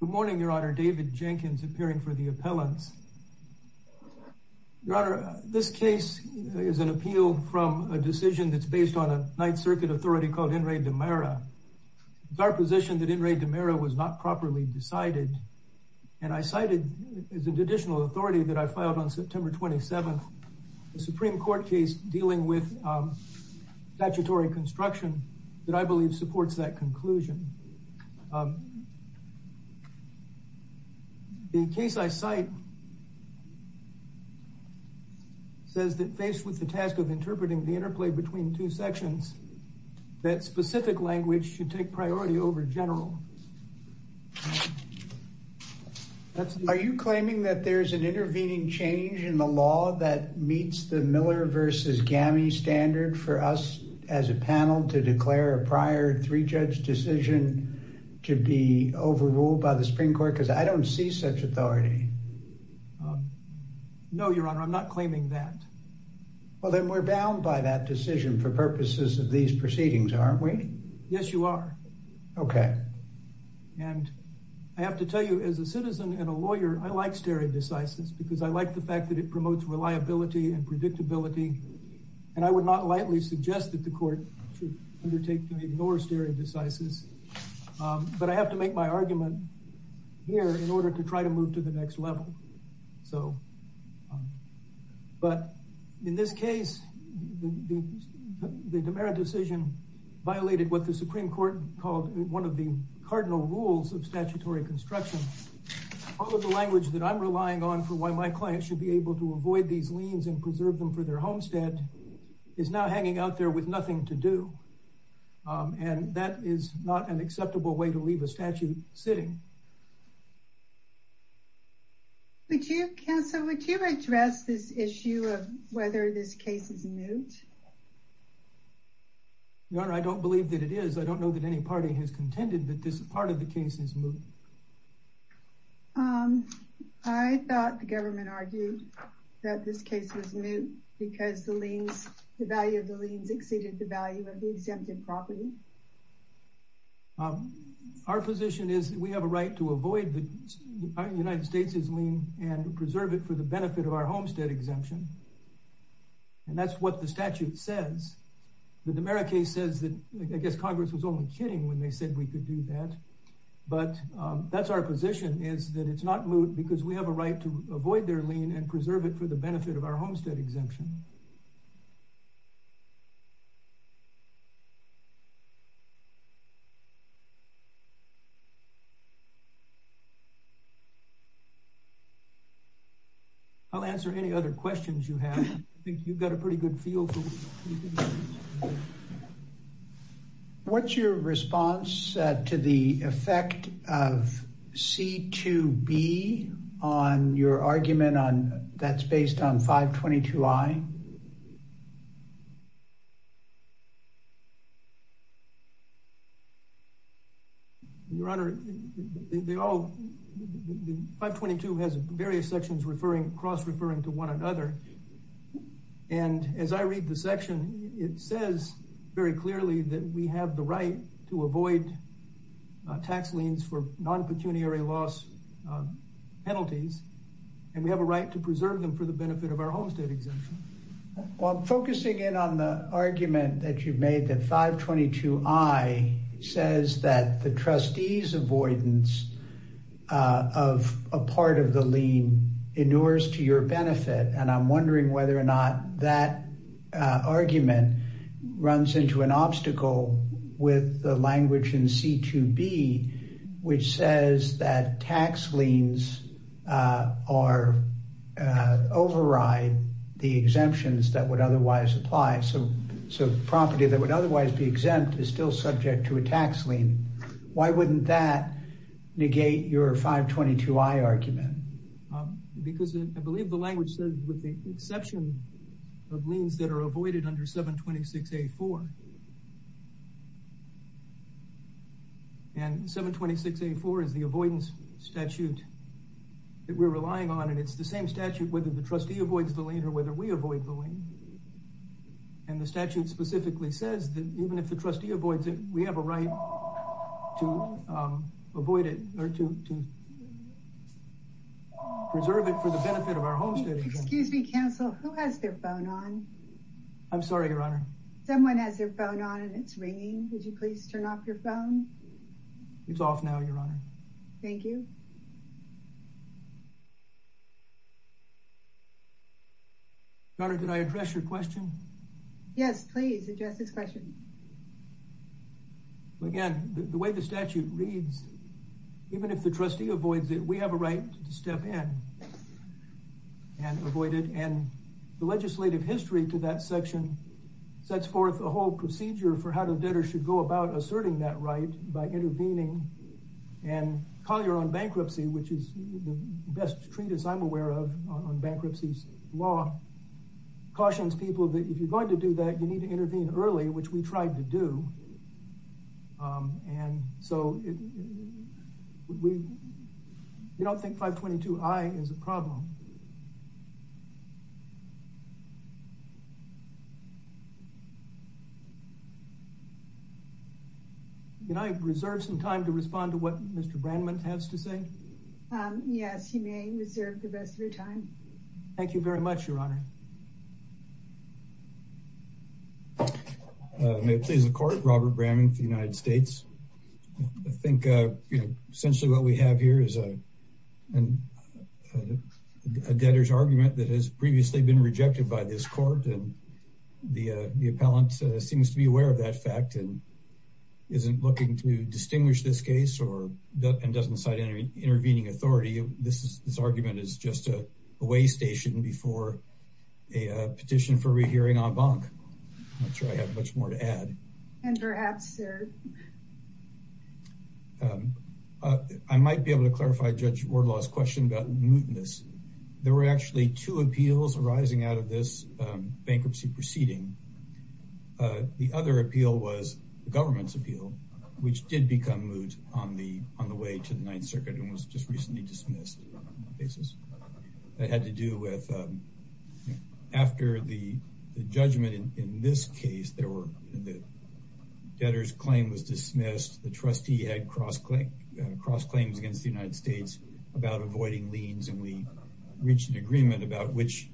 Good morning, Your Honor. David Jenkins, appearing for the appellants. Your Honor, this case is an appeal from a decision that's based on a Ninth Circuit authority called In re de Mera. It's our position that In re de Mera was not properly decided, and I cited as an additional authority that I filed on September 27th, a Supreme Court case dealing with statutory construction that I believe supports that conclusion. The case I cite says that faced with the task of interpreting the interplay between two sections, that specific language should take priority over general. Are you claiming that there's an intervening change in the law that meets the Miller versus Gammy standard for us as a panel to declare a prior three-judge decision to be overruled by the Supreme Court? Because I don't see such authority. No, Your Honor, I'm not claiming that. Well, then we're bound by that decision for purposes of these proceedings, aren't we? Yes, you are. Okay. And I have to tell you, as a citizen and a lawyer, I like stereo decisis because I like the fact that it promotes reliability and predictability. And I would not lightly suggest that the court should undertake to ignore stereo decisis. But I have to make my argument here in order to try to move to the next level. So, but in this case, the de Mera decision violated what the Supreme Court called one of the cardinal rules of statutory construction. All of the language that I'm relying on for why my client should be able to avoid these liens and preserve them for their homestead is now hanging out there with nothing to do. And that is not an acceptable way to leave a statute sitting. Would you, counsel, would you address this that any party has contended that this part of the case is moot? I thought the government argued that this case was moot because the liens, the value of the liens exceeded the value of the exempted property. Our position is that we have a right to avoid the United States' lien and preserve it for the benefit of our homestead exemption. And that's what the statute says. The de Mera case says that I guess Congress was only kidding when they said we could do that. But that's our position is that it's not moot because we have a right to avoid their lien and preserve it for the benefit of our homestead exemption. I'll answer any other questions you have. I think you've got a pretty good feel. What's your response to the effect of C2B on your argument on that's based on 522I? Your Honor, 522 has various sections cross-referring to one another. And as I read the section, it says very clearly that we have the right to avoid tax liens for non-pecuniary loss penalties, and we have a right to preserve them for the benefit of our homestead exemption. Well, focusing in on the argument that you've made that 522I says that the trustees' avoidance of a part of the lien inures to your benefit. And I'm wondering whether or not that argument runs into an obstacle with the language in C2B, which says that tax liens override the exemptions that would otherwise apply. So property that would otherwise be exempt is still subject to a tax lien. Why wouldn't that negate your 522I argument? Because I believe the language says with the exception of liens that are avoided under 726A4. And 726A4 is the avoidance statute that we're relying on, and it's the same statute whether the trustee avoids the lien or whether we avoid the lien. And the statute specifically says that even if the trustee avoids the lien, we have a right to avoid it or to preserve it for the benefit of our homestead exemption. Excuse me, counsel. Who has their phone on? I'm sorry, Your Honor. Someone has their phone on and it's ringing. Would you please turn off your phone? It's Again, the way the statute reads, even if the trustee avoids it, we have a right to step in and avoid it. And the legislative history to that section sets forth a whole procedure for how the debtor should go about asserting that right by intervening. And Collier on bankruptcy, which is the best treatise I'm aware of on bankruptcy law, cautions people that if you're going to do that, you need to intervene early, which we tried to do. And so we don't think 522I is a problem. Can I reserve some time to respond to what Mr. Brandman has to say? Yes, you may reserve the rest of your time. Thank you very much, Your Honor. May it please the court, Robert Bramington, United States. I think essentially what we have here is a debtor's argument that has previously been rejected by this court. And the appellant seems to be aware of that fact and isn't looking to distinguish this case or doesn't cite any intervening authority. This argument is just a way station before a petition for rehearing en banc. I'm not sure I have much more to add. I might be able to clarify Judge Wardlaw's question about mootness. There were actually two appeals arising out of this bankruptcy proceeding. The other appeal was the government's appeal, which did become moot on the way to the Ninth Circuit and was just recently dismissed. That had to do with after the judgment in this case, the debtor's claim was dismissed. The trustee had cross claims against the United States about avoiding liens, and we reached an agreement about which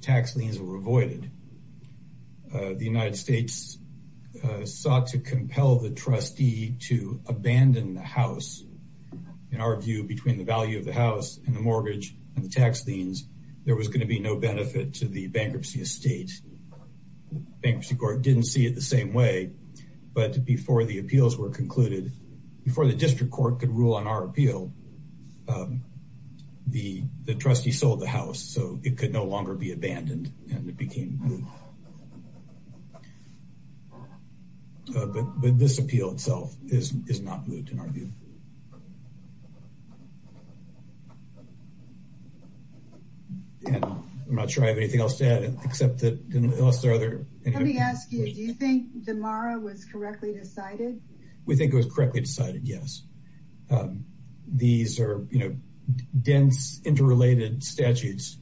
tax liens were avoided. The United States sought to compel the trustee to abandon the house. In our view, between the value of the house and the mortgage and the tax liens, there was going to be no benefit to the bankruptcy estate. Bankruptcy court didn't see it the same way. But before the appeals were concluded, before the district court could rule on our appeal, the trustee sold the house, so it could no longer be abandoned, and it became moot. But this appeal itself is not moot in our view. I'm not sure I have anything else to add, except that unless there are other... Let me ask you, do you think DeMauro was correctly decided? We think it was correctly decided, yes. These are dense, interrelated statutes,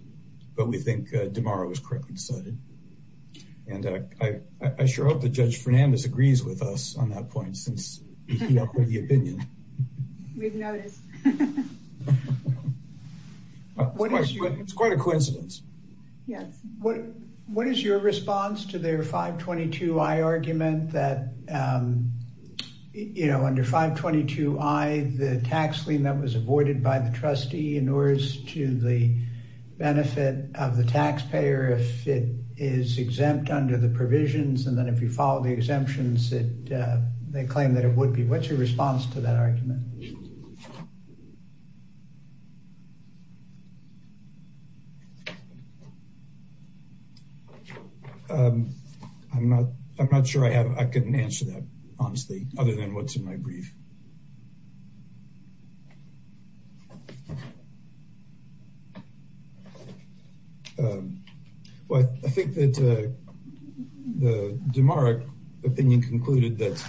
but we think DeMauro was correctly decided. I sure hope that Judge Fernandez agrees with us on that point, since he upheld the opinion. We've noticed. It's quite a coincidence. Yes. What is your response to their 522i argument that, you know, under 522i, the tax lien that was avoided by the trustee in order to the benefit of the taxpayer, if it is exempt under the provisions, and then if you follow the exemptions, they claim that it would be. What's your response to that argument? I'm not sure I can answer that, honestly, other than what's in my brief. Well, I think that the DeMauro opinion concluded that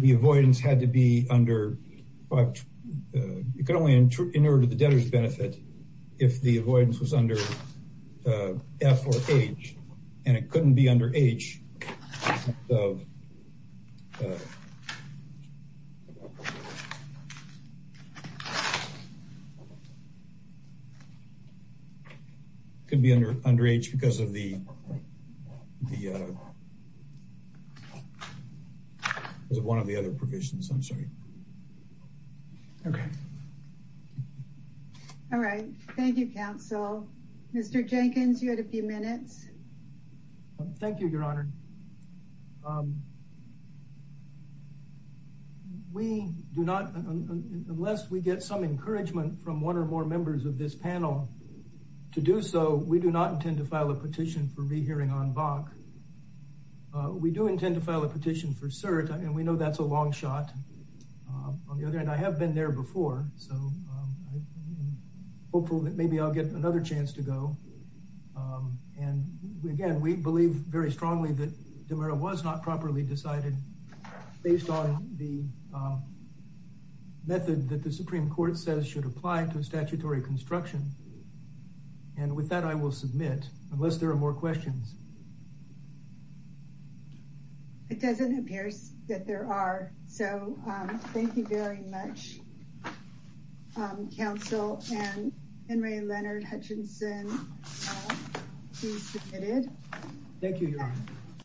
the avoidance had to be under... It could only in order to the debtor's benefit if the avoidance was under F or H, and it couldn't be under H because of the... It was one of the other provisions, I'm sorry. Okay. All right. Thank you, counsel. Mr. Jenkins, you had a few minutes. Thank you, Your Honor. We do not, unless we get some encouragement from one or more members of this panel to do so, we do not intend to file a petition for rehearing on Bach. We do intend to file a petition for cert, and we know that's a long shot. On the other hand, I have been there before, so I'm hopeful that maybe I'll get another chance to go. And again, we believe very strongly that DeMauro was not properly decided based on the method that the Supreme Court says should apply to statutory construction. And with that, I will submit unless there are more questions. It doesn't appear that there are, so thank you very much, counsel. And Henry Leonard Hutchinson, please submit it. Thank you, Your Honor.